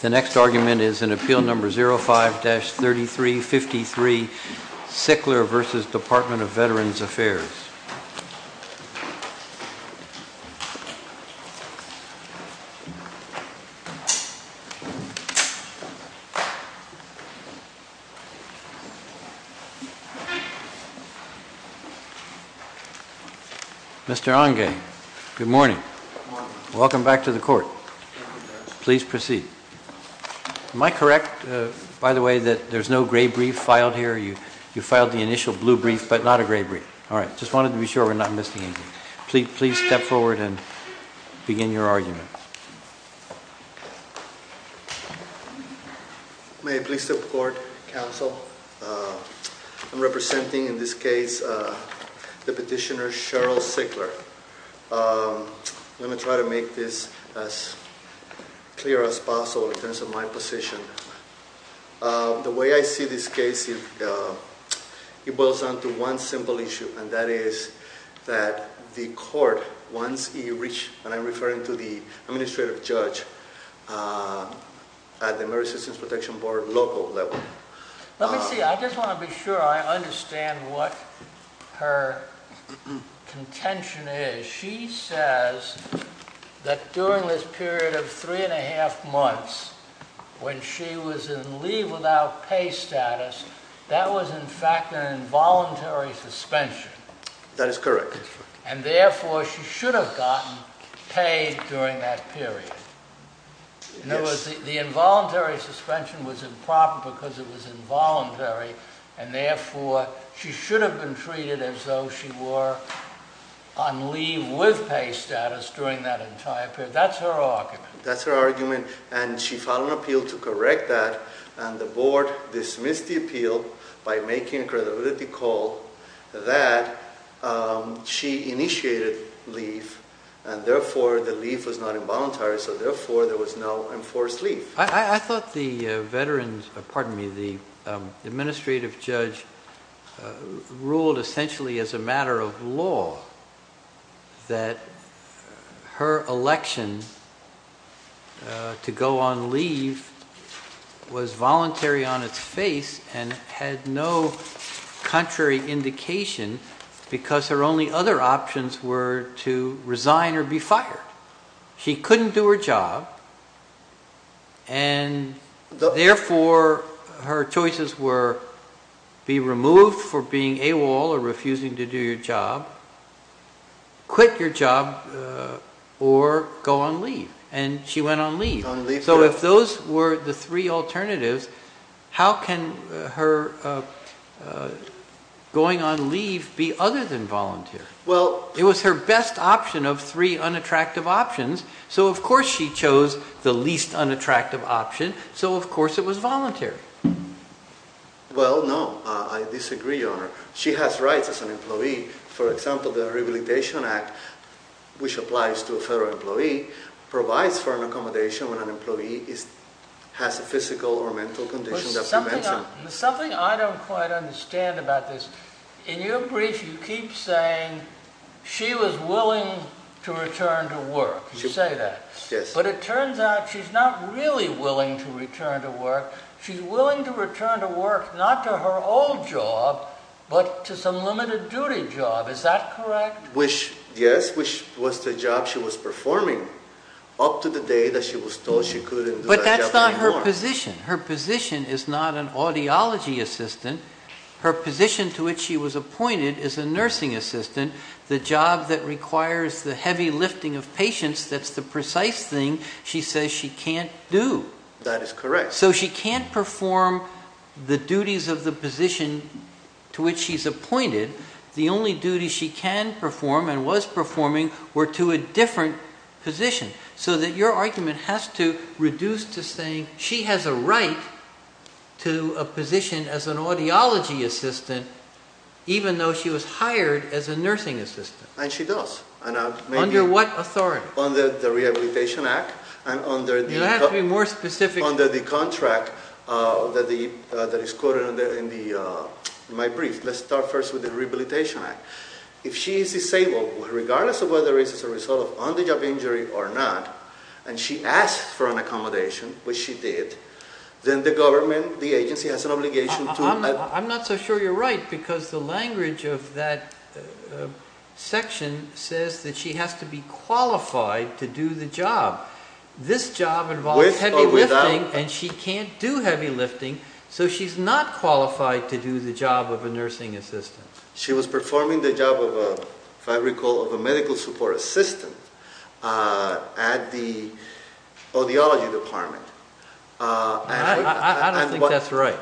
The next argument is in Appeal No. 05-3353, Sickler v. Department of Veterans Affairs. Mr. Onge, good morning. Welcome back to the court. Please proceed. Am I correct, by the way, that there's no gray brief filed here? You filed the initial blue brief, but not a gray brief. All right, just wanted to be sure we're not missing anything. Please step forward and begin your argument. May I please step forward, counsel? I'm representing, in this case, the petitioner Cheryl Sickler. Let me try to make this as clear as possible in terms of my position. The way I see this case, it boils down to one simple issue, and that is that the court, once you reach, and I'm referring to the administrative judge, at the American Citizens Protection Board local level... Let me see, I just want to be sure I understand what her contention is. She says that during this period of three and a half months, when she was in leave without pay status, that was, in fact, an involuntary suspension. That is correct. And, therefore, she should have gotten paid during that period. The involuntary suspension was improper because it was involuntary, and, therefore, she should have been treated as though she were on leave with pay status during that entire period. That's her argument. That's her argument, and she filed an appeal to correct that, and the board dismissed the appeal by making a credibility call that she initiated leave, and, therefore, the leave was not involuntary, so, therefore, there was no enforced leave. I thought the administrative judge ruled, essentially, as a matter of law that her election to go on leave was voluntary on its face and had no contrary indication because her only other options were to resign or be fired. She couldn't do her job, and, therefore, her choices were be removed for being AWOL or refusing to do your job, quit your job, or go on leave, and she went on leave. So, if those were the three alternatives, how can her going on leave be other than voluntary? It was her best option of three unattractive options, so, of course, she chose the least unattractive option, so, of course, it was voluntary. Well, no, I disagree, Your Honor. She has rights as an employee. For example, the Rehabilitation Act, which applies to a federal employee, provides for an accommodation when an employee has a physical or mental condition that we mentioned. There's something I don't quite understand about this. In your brief, you keep saying she was willing to return to work. You say that. Yes. But it turns out she's not really willing to return to work. She's willing to return to work, not to her old job, but to some limited duty job. Is that correct? Which, yes, which was the job she was performing up to the day that she was told she couldn't. But that's not her position. Her position is not an audiology assistant. Her position to which she was appointed is a nursing assistant, the job that requires the heavy lifting of patients. That's the precise thing she says she can't do. That is correct. So she can't perform the duties of the position to which she's appointed. The only duties she can perform and was performing were to a different position, so that your argument has to reduce to saying she has a right to a position as an authority. She was hired as a nursing assistant. And she does. Under what authority? Under the Rehabilitation Act. You have to be more specific. Under the contract that is quoted in my brief. Let's start first with the Rehabilitation Act. If she is disabled, regardless of whether it's a result of on-the-job injury or not, and she asks for an accommodation, which she did, then the government, the agency has an obligation to... I'm not so sure you're right, because the language of that section says that she has to be qualified to do the job. This job involves heavy lifting, and she can't do heavy lifting, so she's not qualified to do the job of a nursing assistant. She was performing the job of a medical support assistant at the audiology department. I don't think that's right.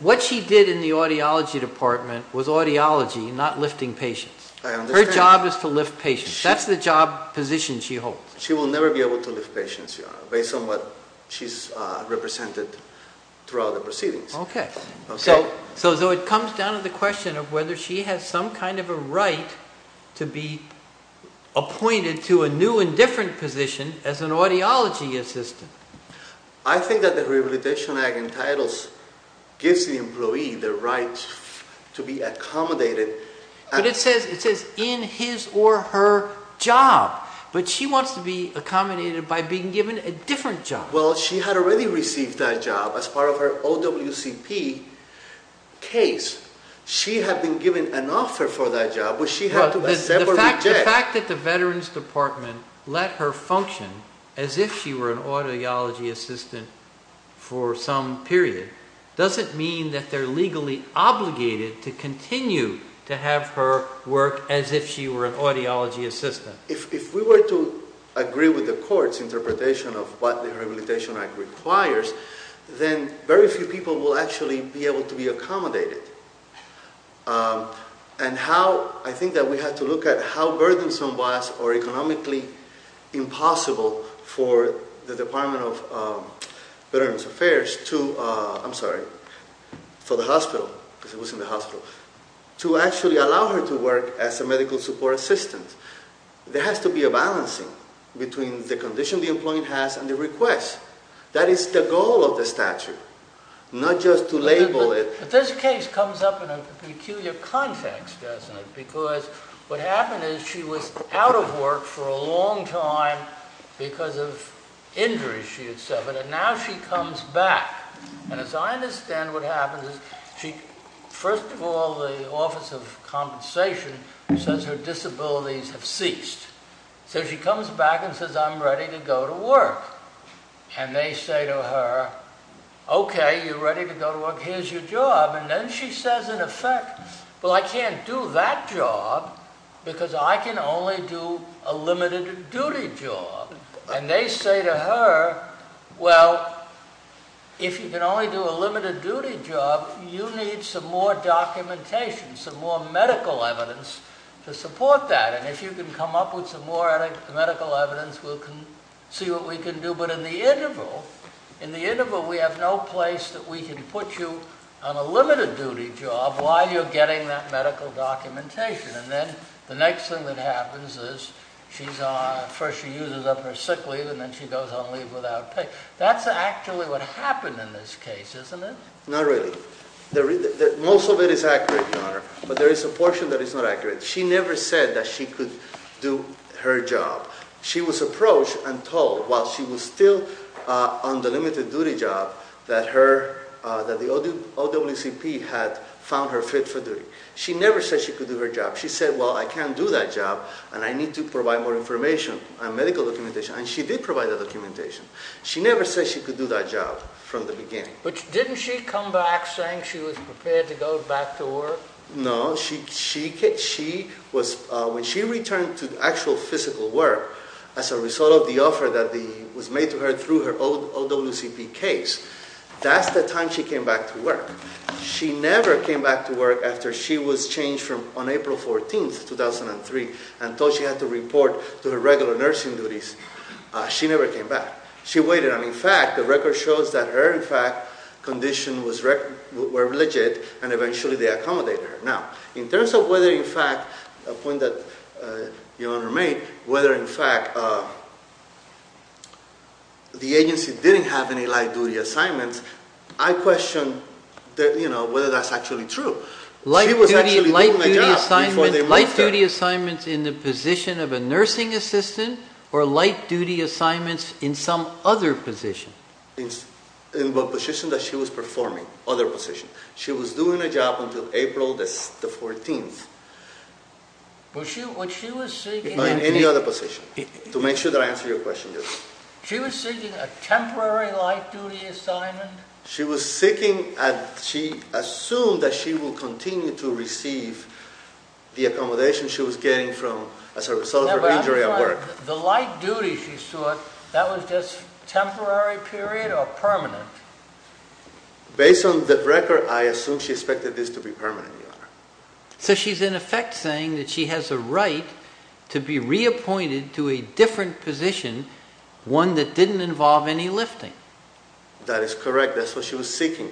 What she did in the audiology department was audiology, not lifting patients. Her job is to lift patients. That's the job position she holds. She will never be able to lift patients, based on what she's represented throughout the proceedings. Okay. So it comes down to the question of whether she has some kind of a right to be appointed to a new and different position as an audiology assistant. I think that the Rehabilitation Act entitles, gives the employee the right to be accommodated. But it says in his or her job, but she wants to be accommodated by being given a different job. Well, she had already received that job as part of her OWCP case. She had been given an offer for that job, which she had to accept or reject. The fact that the veterans department let her function as if she were an audiology assistant for some period, doesn't mean that they're legally obligated to continue to have her work as if she were an audiology assistant. If we were to agree with the court's interpretation of what the Rehabilitation Act requires, then very few people will actually be able to be accommodated. And how, I think that we have to look at how burdensome was or economically impossible for the Department of Veterans Affairs to, I'm sorry, for the hospital, because it was in the hospital, to actually allow her to work as a medical support assistant. There has to be a balancing between the condition the employee has and the request. That is the goal of the statute, not just to label it. But this case comes up in a peculiar context, doesn't it? Because what happened is she was out of work for a long time because of injuries she had suffered, and now she comes back. And as I understand what happens is she, first of all, the Office of Veterans Affairs, comes back and says, I'm ready to go to work. And they say to her, okay, you're ready to go to work, here's your job. And then she says in effect, well, I can't do that job because I can only do a limited duty job. And they say to her, well, if you can only do a limited duty job, you need some more documentation, some more medical evidence to support that. And if you can come up with some more medical evidence, we'll see what we can do. But in the interval, we have no place that we can put you on a limited duty job while you're getting that medical documentation. And then the next thing that happens is first she uses up her sick leave, and then she goes on leave without pay. That's actually what happened in this case. She never said that she could do her job. She was approached and told while she was still on the limited duty job that the OWCP had found her fit for duty. She never said she could do her job. She said, well, I can't do that job, and I need to provide more information and medical documentation. And she did provide the documentation. She never said she could do that job from the beginning. But didn't she come back saying she was prepared to go back to work? No. When she returned to actual physical work as a result of the offer that was made to her through her OWCP case, that's the time she came back to work. She never came back to work after she was changed from on April 14, 2003, and told she had to report to her regular nursing duties. She never came back. She waited. And in fact, the record shows that her, in fact, condition were legit, and eventually they accommodated her. Now, in terms of whether, in fact, a point that your Honor made, whether, in fact, the agency didn't have any light duty assignments, I question that, you know, whether that's actually true. She was actually doing a job before they moved her. Light duty assignments in the position of a nursing assistant, or light duty assignments in some other position? In the position that she was performing, other position. She was doing a job until April the 14th. Was she, was she was seeking? In any other position, to make sure that I answer your question. She was seeking a temporary light duty assignment? She was seeking, she assumed that she would continue to receive the accommodation she was getting from, as a result of her injury at work. The light duty she sought, that was just temporary period or permanent? Based on the record, I assume she expected this to be permanent. So she's in effect saying that she has a right to be reappointed to a different position, one that didn't involve any lifting. That is correct. That's what she was seeking.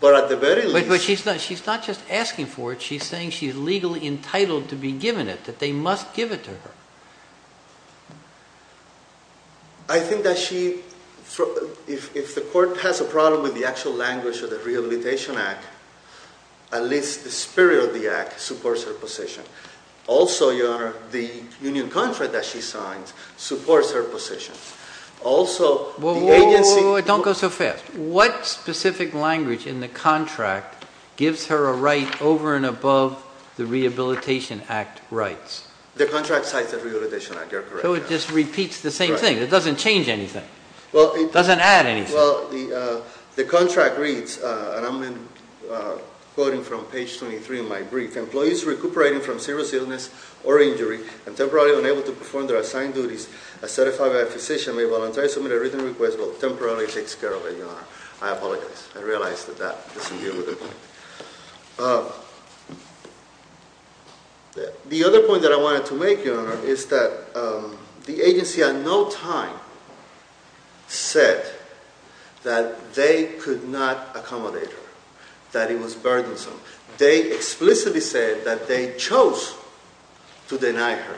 But at the very least... But she's not, she's not just asking for it, she's saying she's legally entitled to be given it, that they must give it to her. I think that she, if the court has a problem with the actual language of the Rehabilitation Act, at least the spirit of the act supports her position. Also, your honor, the union contract that she signed supports her position. Also, the agency... Whoa, whoa, whoa, don't go so fast. What specific language in the contract gives her a right over and above the Rehabilitation Act rights? The contract cites the Rehabilitation Act, you're correct. So it just repeats the same thing. It doesn't change anything. It doesn't add anything. Well, the contract reads, and I'm quoting from page 23 of my brief, employees recuperating from serious illness or injury and temporarily unable to perform their assigned duties as certified by a physician may I apologize. I realize that that doesn't deal with it. The other point that I wanted to make, your honor, is that the agency at no time said that they could not accommodate her, that it was burdensome. They explicitly said that they chose to deny her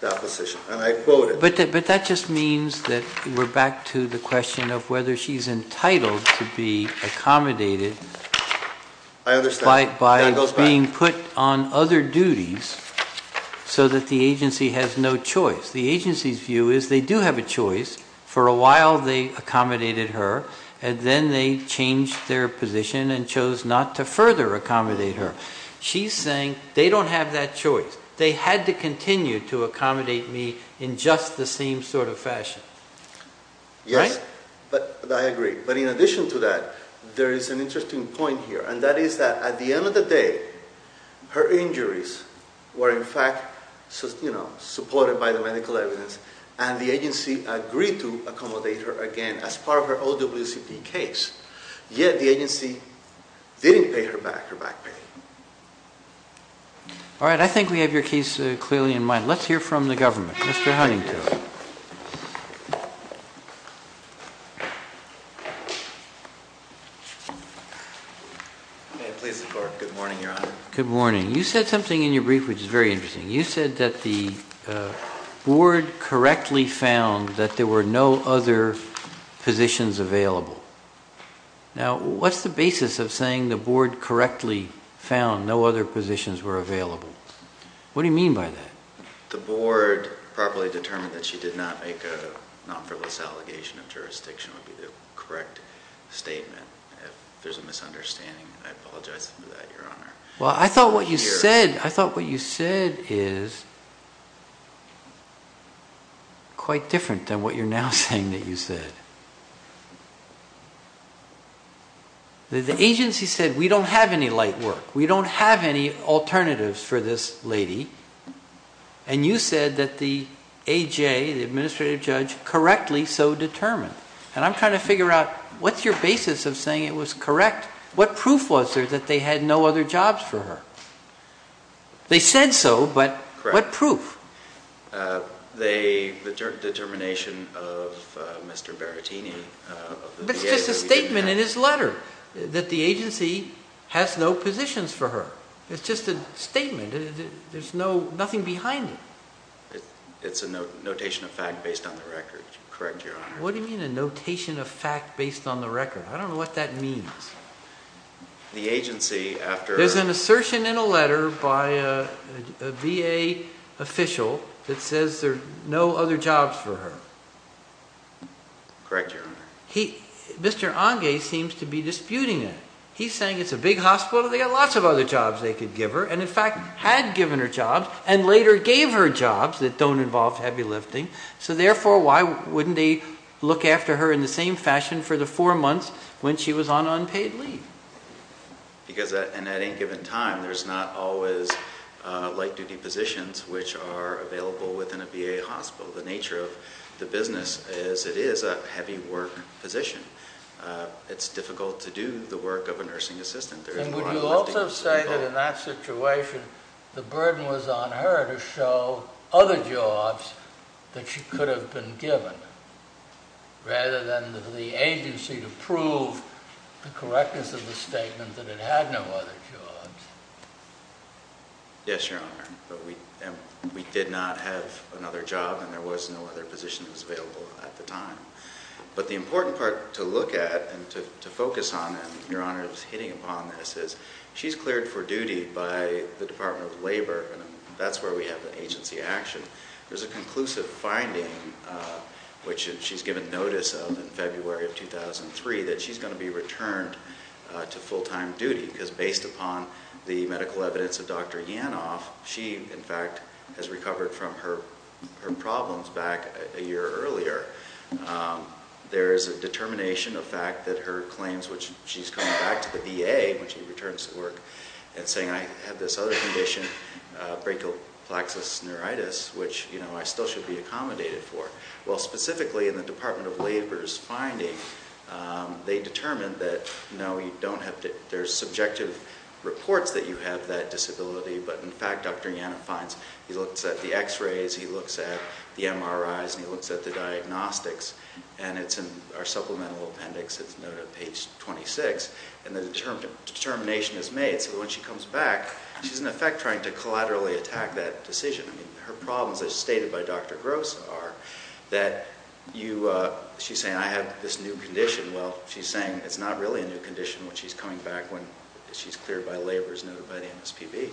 that position, and I quote it. But that just means that we're back to the title to be accommodated by being put on other duties so that the agency has no choice. The agency's view is they do have a choice. For a while, they accommodated her, and then they changed their position and chose not to further accommodate her. She's saying they don't have that choice. They had to continue to accommodate me in just the same sort of fashion. Yes, but I agree. But in addition to that, there is an interesting point here, and that is that at the end of the day, her injuries were in fact supported by the medical evidence, and the agency agreed to accommodate her again as part of her OWCP case, yet the agency didn't pay her back her back pay. All right, I think we have your case clearly in mind. Let's hear from the government. Mr. Huntington. May I please report? Good morning, Your Honor. Good morning. You said something in your brief which is very interesting. You said that the board correctly found that there were no other positions available. Now, what's the basis of saying the board correctly found no other positions were available? What do you mean by that? The board properly determined that she did not make a allegation of jurisdiction would be the correct statement. If there's a misunderstanding, I apologize for that, Your Honor. Well, I thought what you said is quite different than what you're now saying that you said. The agency said we don't have any light work. We don't have any alternatives for this lady, and you said that the AJ, the administrative judge, correctly so determined. And I'm trying to figure out what's your basis of saying it was correct? What proof was there that they had no other jobs for her? They said so, but what proof? The determination of Mr. Berrettini. It's just a statement in his letter that the agency has no positions for her. It's just a nothing behind it. It's a notation of fact based on the record. Correct, Your Honor. What do you mean a notation of fact based on the record? I don't know what that means. There's an assertion in a letter by a VA official that says there are no other jobs for her. Correct, Your Honor. Mr. Ange seems to be disputing it. He's saying it's a big hospital. They've got lots of other jobs and later gave her jobs that don't involve heavy lifting, so therefore why wouldn't they look after her in the same fashion for the four months when she was on unpaid leave? Because at any given time there's not always light duty positions which are available within a VA hospital. The nature of the business is it is a heavy work position. It's difficult to do the work of a nursing assistant. Would you also say that in that situation the burden was on her to show other jobs that she could have been given rather than the agency to prove the correctness of the statement that it had no other jobs? Yes, Your Honor. We did not have another job and there was no other position that was available at the time. But the important part to look at and to focus on, and Your Honor is hitting upon this, is she's cleared for duty by the Department of Labor and that's where we have an agency action. There's a conclusive finding which she's given notice of in February of 2003 that she's going to be returned to full-time duty because based upon the medical evidence of Dr. Yanov, she in fact has recovered from her her problems back a year earlier. There is a determination of fact that her claims which she's coming back to the VA when she returns to work and saying I have this other condition, brachial plexus neuritis, which you know I still should be accommodated for. Well specifically in the Department of Labor's finding they determined that no you don't there's subjective reports that you have that disability but in fact Dr. Yanov finds he looks at the x-rays, he looks at the MRIs, and he looks at the diagnostics and it's in our supplemental appendix. It's noted on page 26 and the determination is made so when she comes back she's in effect trying to collaterally attack that decision. I mean her problems as stated by Dr. Gross are that she's saying I have this new condition. Well she's saying it's not really a new condition when she's coming back when she's cleared by labor is noted by the MSPB.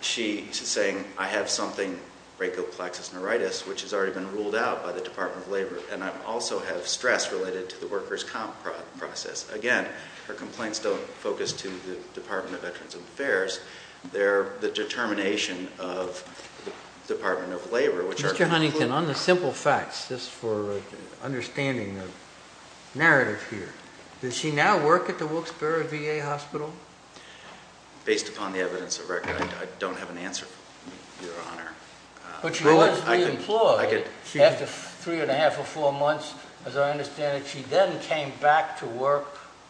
She's saying I have something, brachial plexus neuritis, which has already been ruled out by the Department of Labor and I also have stress related to the workers' comp process. Again, her complaints don't focus to the Department of Veterans Affairs. They're the determination of Department of Labor. Mr. Huntington, on the simple facts, just for understanding the work at the Wilkes-Barre VA Hospital? Based upon the evidence of record, I don't have an answer, Your Honor. But she was re-employed after three and a half or four months. As I understand it, she then came back to work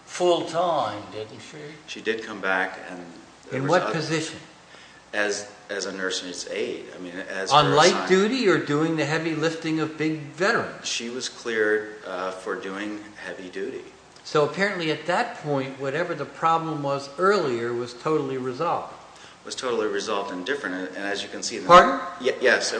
full-time, didn't she? She did come back. In what position? As a nurse's aide. On light duty or doing the heavy lifting of big veterans? She was cleared for doing heavy duty. So apparently at that point, whatever the problem was earlier was totally resolved. Was totally resolved and different. And as you can see... Pardon? Yes,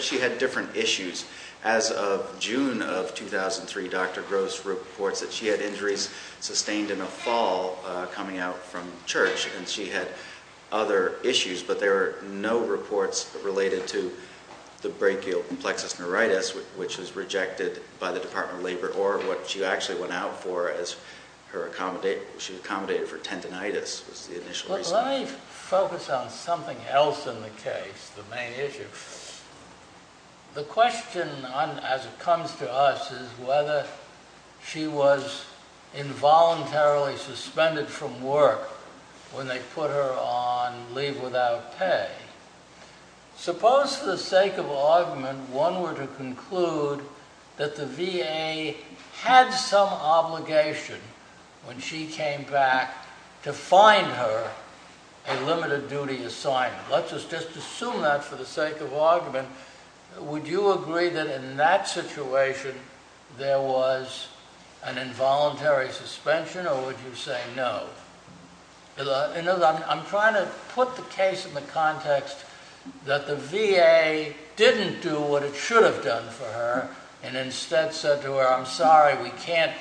she had different issues. As of June of 2003, Dr. Gross reports that she had injuries sustained in a fall coming out from church and she had other issues. But there are no reports related to the brachial plexus which was rejected by the Department of Labor or what she actually went out for as her accommodate... She was accommodated for tendonitis. Let me focus on something else in the case, the main issue. The question as it comes to us is whether she was involuntarily suspended from work when they put her on leave without pay. Suppose for the sake of argument, one were to conclude that the VA had some obligation when she came back to find her a limited duty assignment. Let's just assume that for the sake of argument. Would you agree that in that situation there was an involuntary suspension or would you say no? I'm trying to put the case in the context that the VA didn't do what it should have done for her and instead said to her, I'm sorry, we can't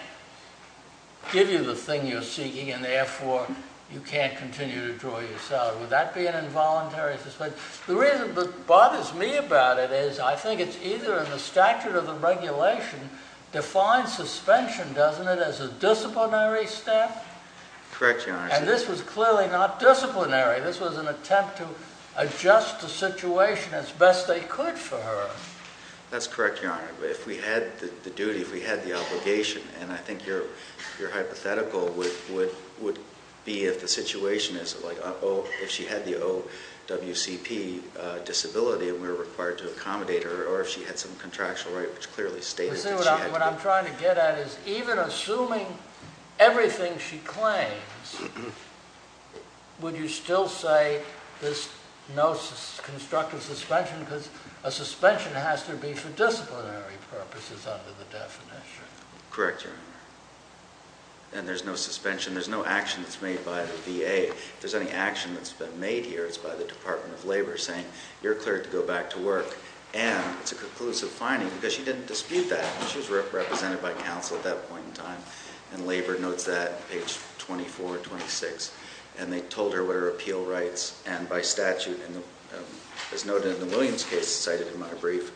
give you the thing you're seeking and therefore you can't continue to draw your salary. Would that be an involuntary suspension? The reason that bothers me about it is I think it's either in the statute of the regulation defines suspension, doesn't it, as a disciplinary step? Correct, Your Honor. And this was clearly not disciplinary. This was an attempt to adjust the situation as best they could for her. That's correct, Your Honor. But if we had the duty, if we had the obligation, and I think your hypothetical would be if the situation is like if she had the OWCP disability and we were required to accommodate her or if she had some everything she claims, would you still say there's no constructive suspension because a suspension has to be for disciplinary purposes under the definition? Correct, Your Honor. And there's no suspension. There's no action that's made by the VA. If there's any action that's been made here, it's by the Department of Labor saying you're cleared to go back to work and it's a conclusive finding because she didn't dispute that. She was represented by counsel at that point in time and Labor notes that, page 24, 26, and they told her what her appeal rights and by statute, as noted in the Williams case cited in my brief,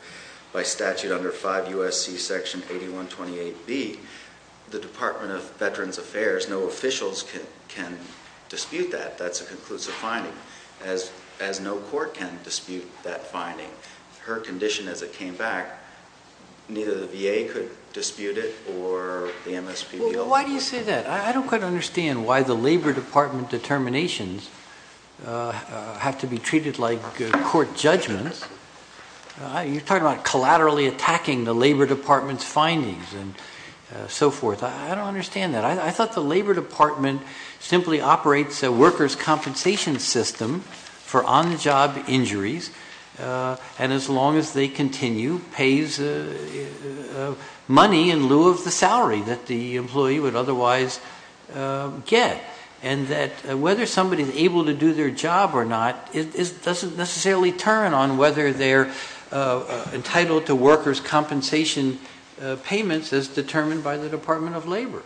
by statute under 5 U.S.C. section 8128B, the Department of Veterans Affairs, no officials can dispute that. That's a conclusive finding as no court can dispute that finding. Her condition as it came back, neither the VA could Why do you say that? I don't quite understand why the Labor Department determinations have to be treated like court judgments. You're talking about collaterally attacking the Labor Department's findings and so forth. I don't understand that. I thought the Labor Department simply operates a worker's compensation system for on-the-job injuries and as long as they continue, pays money in lieu of the salary that the employee would otherwise get and that whether somebody's able to do their job or not, it doesn't necessarily turn on whether they're entitled to workers' compensation payments as determined by the Department of Labor.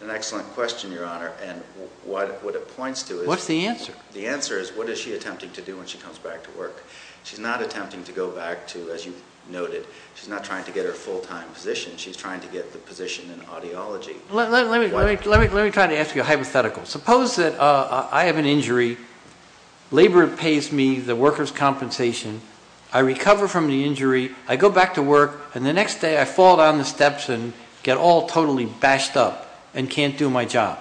An excellent question, Your Honor, and what it points to is... What's the answer? The answer is what is she attempting to do when she comes back to work? She's not attempting to go back to, as you noted, she's not trying to get her full-time position. She's trying to get the position in audiology. Let me try to ask you a hypothetical. Suppose that I have an injury, Labor pays me the workers' compensation, I recover from the injury, I go back to work, and the next day I fall down the steps and get all totally bashed up and can't do my job.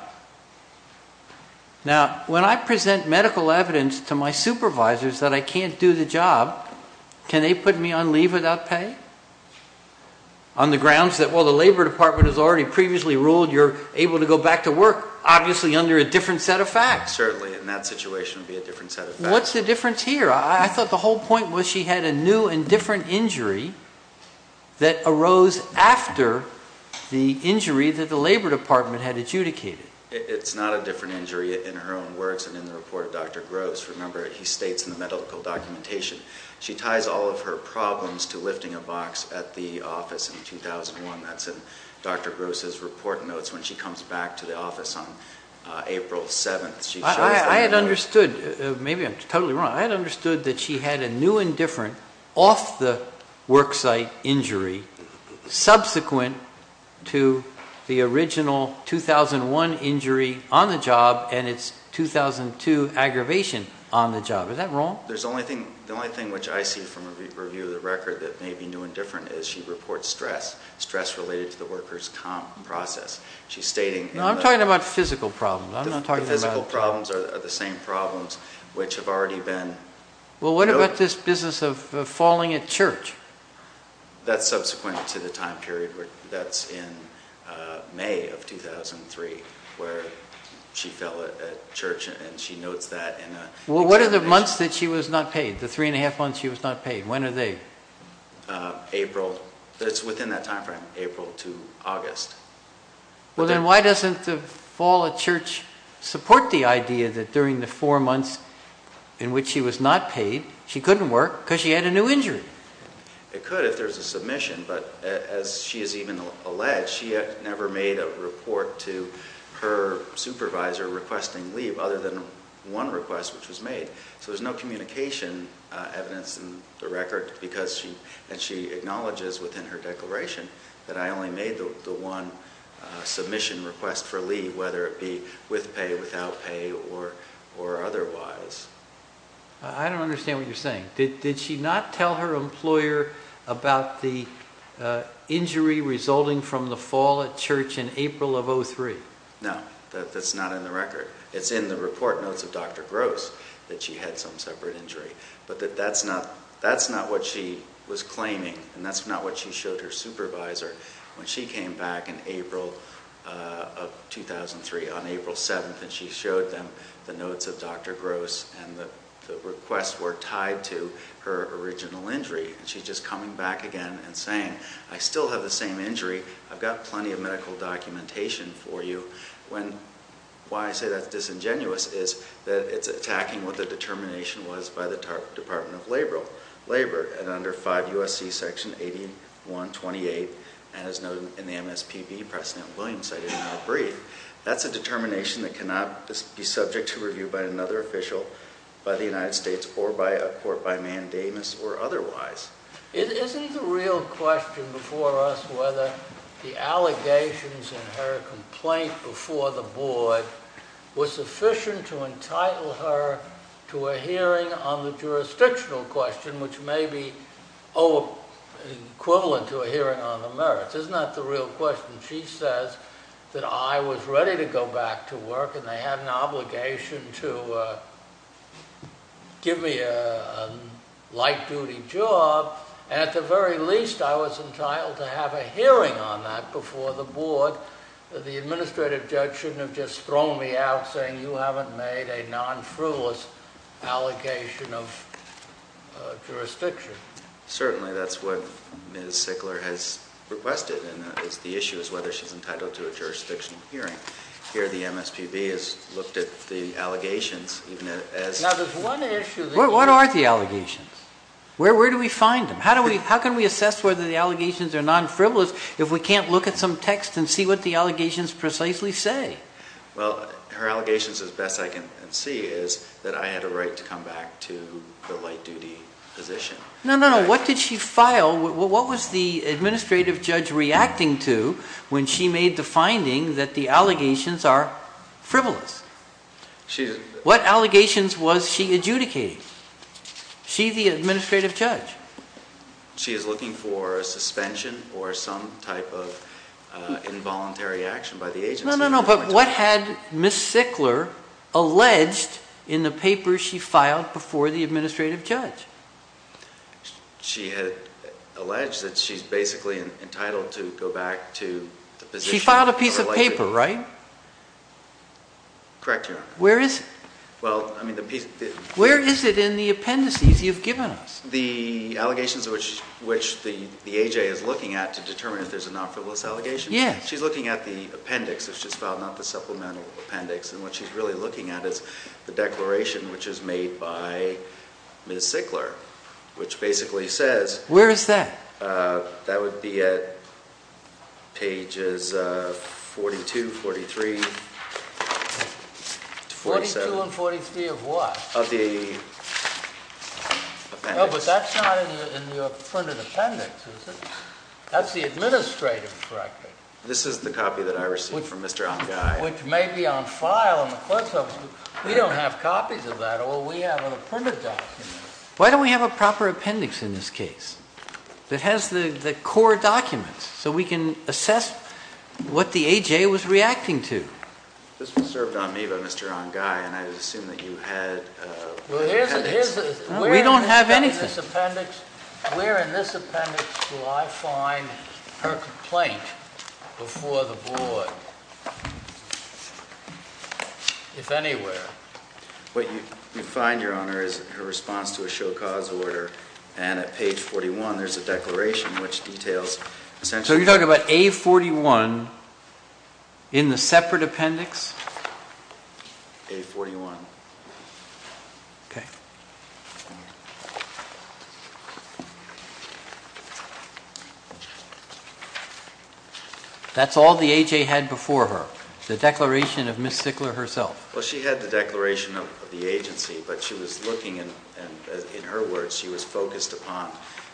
Now, when I present medical evidence to my supervisors that I can't do the job, can they put me on leave without pay? On the grounds that, well, the Labor Department has already previously ruled you're able to go back to work, obviously under a different set of facts. Certainly, and that situation would be a different set of facts. What's the difference here? I thought the whole point was she had a new and different injury that arose after the injury that the Labor Department had adjudicated. It's not a different injury in her own words and in the report of Dr. Gross. Remember, he states in the medical documentation she ties all of her problems to lifting a box at the office in 2001. That's in Dr. Gross's report notes when she comes back to the office on April 7th. I had understood, maybe I'm totally wrong, I had understood that she had a new and different off-the-work site injury subsequent to the original 2001 injury on the job and its 2002 aggravation on the job. Is that wrong? There's only thing, the only thing which I see from a review of the record that may be new and different is she reports stress, stress related to the workers' comp process. She's stating... I'm talking about physical problems. The physical problems are the same problems which have already been... Well, what about this business of falling at church? That's subsequent to the time period where that's in May of 2003 where she fell at church and she notes that in a... Well, what are the months that she was not paid, the three and a half months she was not paid? When are they? April. It's within that time frame, April to August. Well, then why doesn't the fall at church support the idea that during the four months in which she was not paid, she couldn't work because she had a new injury? It could if there's a submission, but as she has even alleged, she had never made a report to her supervisor requesting leave other than one request which was made. So there's no communication evidence in the record because she... And she acknowledges within her declaration that I only made the one submission request for leave, whether it be with pay, without pay, or otherwise. I don't understand what you're saying. Did she not tell her employer about the injury resulting from the fall at church in April of 03? No, that's not in the record. It's in the report notes of Dr. Gross that she had some separate injury, but that's not what she was claiming and that's not what she showed her the notes of Dr. Gross and the requests were tied to her original injury. And she's just coming back again and saying, I still have the same injury. I've got plenty of medical documentation for you. Why I say that's disingenuous is that it's attacking what the determination was by the Department of Labor and under 5 U.S.C. section 8128 and as noted in the MSPB precedent, Williams cited in our brief. That's a determination that cannot be subject to review by another official by the United States or by a court by mandamus or otherwise. Isn't the real question before us whether the allegations in her complaint before the board were sufficient to entitle her to a hearing on the jurisdictional question, which may be equivalent to a hearing on the merits. Isn't that the real question? She says that I was ready to go back to work and they had an obligation to give me a light duty job and at the very least I was entitled to have a hearing on that before the board. The administrative judge shouldn't have just thrown me out saying you haven't made a non-frivolous allegation of jurisdiction. Certainly that's what Ms. Sickler has requested and that is the issue is whether she's entitled to a hearing. Here the MSPB has looked at the allegations. What are the allegations? Where do we find them? How can we assess whether the allegations are non-frivolous if we can't look at some text and see what the allegations precisely say? Well, her allegations as best I can see is that I had a right to come back to the light duty position. No, no, no. What did she file? What was the administrative judge reacting to when she made the finding that the allegations are frivolous? What allegations was she adjudicating? She, the administrative judge. She is looking for a suspension or some type of involuntary action by the agency. No, no, no. But what had Ms. Sickler alleged in the paper she filed before the administrative judge? She had alleged that she's basically entitled to go back to the position of the light duty. She filed a piece of paper, right? Correct, Your Honor. Where is it? Where is it in the appendices you've given us? The allegations which the AJ is looking at to determine if there's a non-frivolous allegation? Yes. She's looking at the appendix that she's filed, not the supplemental appendix. And what she's really looking at is the declaration which is made by Ms. Sickler. Which basically says... Where is that? That would be at pages 42, 43, 47. 42 and 43 of what? Of the appendix. No, but that's not in your printed appendix, is it? That's the administrative record. This is the copy that I received from Mr. Ongai. Which may be on file in the clerk's office. We don't have copies of that. All we have is a printed document. Why don't we have a proper appendix in this case? That has the core documents, so we can assess what the AJ was reacting to. This was served on me by Mr. Ongai, and I would assume that you had... Well, here's the... We don't have anything. Where in this appendix do I find her complaint before the board, if anywhere? What you find, Your Honor, is her response to a show cause order. And at page 41, there's a declaration which details... So you're talking about A41 in the separate appendix? A41. Okay. That's all the AJ had before her? The declaration of Ms. Sickler herself? Well, she had the declaration of the agency, but she was looking, in her words, she was focused upon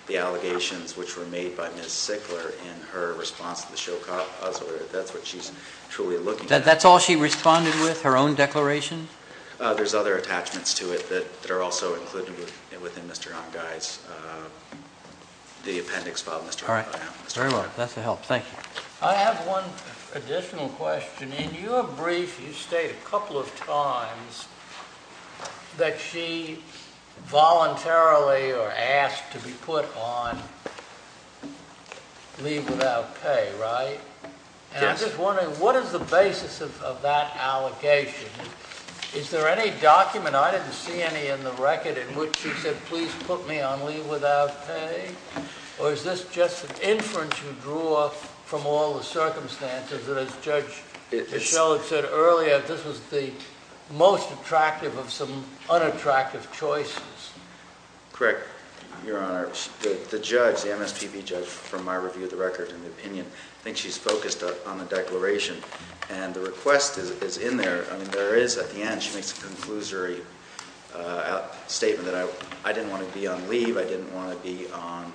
the allegations which were made by Ms. Sickler in her response to the show cause order. That's what she's truly looking at. That's all she responded with, her own declaration? There's other attachments to it that are also included within Mr. Ongai's... the appendix file, Mr. Ongai. All right. Very well. That's a help. Thank you. I have one additional question. In your brief, you state a couple of times that she voluntarily or asked to be put on leave without pay, right? Yes. And I'm just wondering, what is the basis of that allegation? Is there any document? I didn't see any in the record in which she said, please put me on leave without pay? Or is this just an inference you drew off from all the circumstances that, as Judge Bichelle had said earlier, this was the most attractive of some unattractive choices? Correct, Your Honor. The judge, the MSPB judge, from my review of the record and the opinion, thinks she's focused on the declaration. And the request is in there. I mean, there is at the end. She makes a conclusory statement that I didn't want to be on leave. I didn't want to be on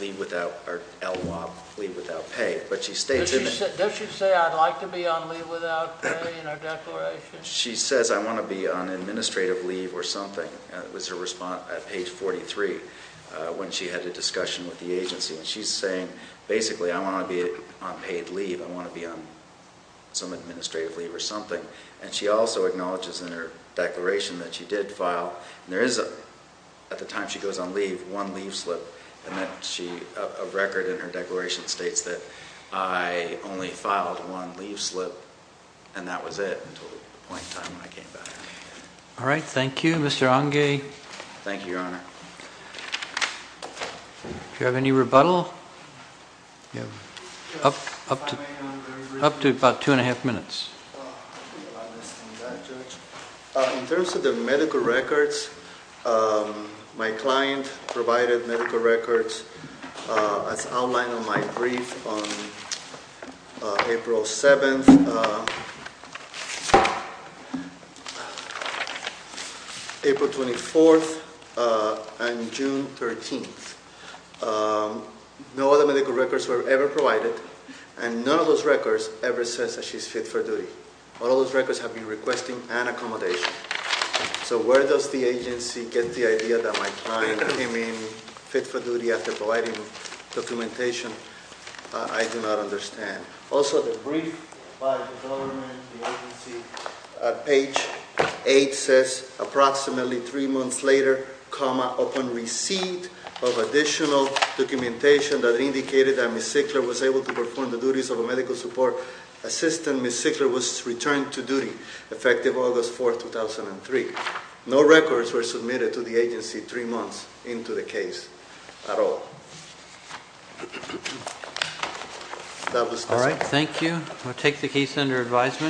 leave without or LWOP, leave without pay. But she states in it... Does she say, I'd like to be on leave without pay in her declaration? She says, I want to be on administrative leave or something. It was her response at page 43 when she had a discussion with the agency. And she's saying, basically, I want to be on paid leave. I want to be on some administrative leave or something. And she also acknowledges in her declaration that she did file. And there is, at the time she goes on leave, one leave slip. And a record in her declaration states that I only filed one leave slip. And that was it until the point in time when I came back. All right. Thank you, Mr. Onge. Thank you, Your Honor. Do you have any rebuttal? Up to about two and a half minutes. In terms of the medical records, my client provided medical records as outlined on my brief on April 7th, April 24th, and June 13th. No other medical records were ever provided. And none of those records ever says that she's fit for duty. All those records have been requesting an accommodation. So where does the agency get the idea that my client came in fit for duty after providing documentation? I do not understand. Also, the brief by the government, the agency, page 8 says approximately three months later, comma, upon receipt of additional documentation that indicated that Ms. Zickler was able to perform the duties of a medical support assistant, Ms. Zickler was returned to duty, effective August 4th, 2003. No records were submitted to the agency three months into the case at all. All right. Thank you. I'll take the case under advisement.